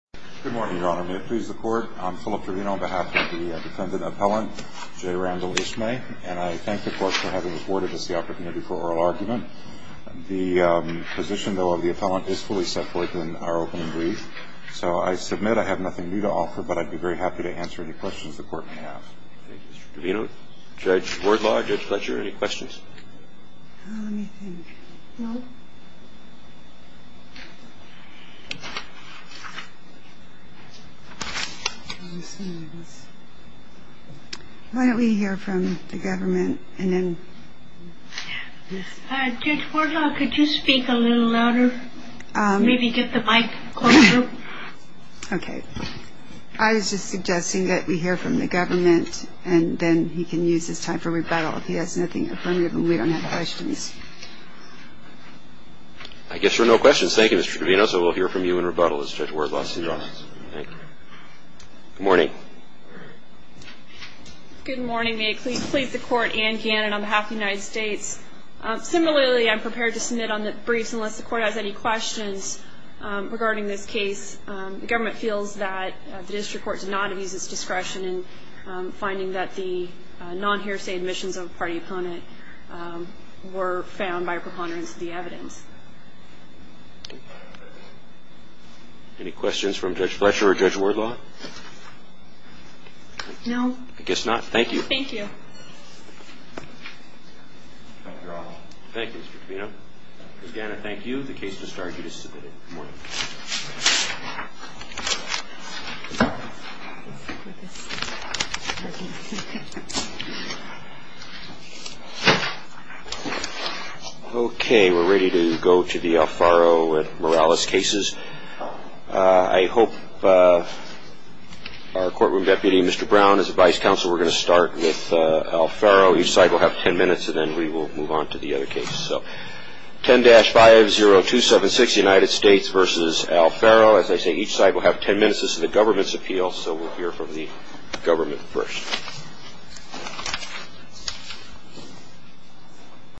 Good morning, Your Honor. May it please the Court? I'm Philip Trevino on behalf of the defendant appellant J. Randall Ismay, and I thank the Court for having awarded us the opportunity for oral argument. The position, though, of the appellant is fully set forth in our opening brief, so I submit I have nothing new to offer, but I'd be very happy to answer any questions the Court may have. Thank you, Mr. Trevino. Judge Wardlaw, Judge Fletcher, any questions? Why don't we hear from the government? Judge Wardlaw, could you speak a little louder? Maybe get the mic closer? Okay. I was just suggesting that we hear from the government, and then he can use his time for rebuttal if he has nothing affirmative, and we don't have questions. I guess there are no questions. Thank you, Mr. Trevino. So we'll hear from you in rebuttal, Judge Wardlaw. Thank you. Good morning. Good morning. May it please the Court? Anne Gannon on behalf of the United States. Similarly, I'm prepared to submit on the briefs unless the Court has any questions regarding this case. The government feels that the district court did not abuse its discretion in finding that the non-hearsay admissions of a party opponent were found by a preponderance of the evidence. Any questions from Judge Fletcher or Judge Wardlaw? No. I guess not. Thank you. Thank you, Mr. Trevino. Ms. Gannon, thank you. The case has been submitted. Good morning. Okay. We're ready to go to the Alfaro Morales cases. I hope our courtroom deputy, Mr. Brown, is the vice counsel. We're going to start with Alfaro. Each side will have 10 minutes, and then we will move on to the other case. So 10-50276, United States v. Alfaro. As I say, each side will have 10 minutes. This is the government's appeal, so we'll hear from the government first.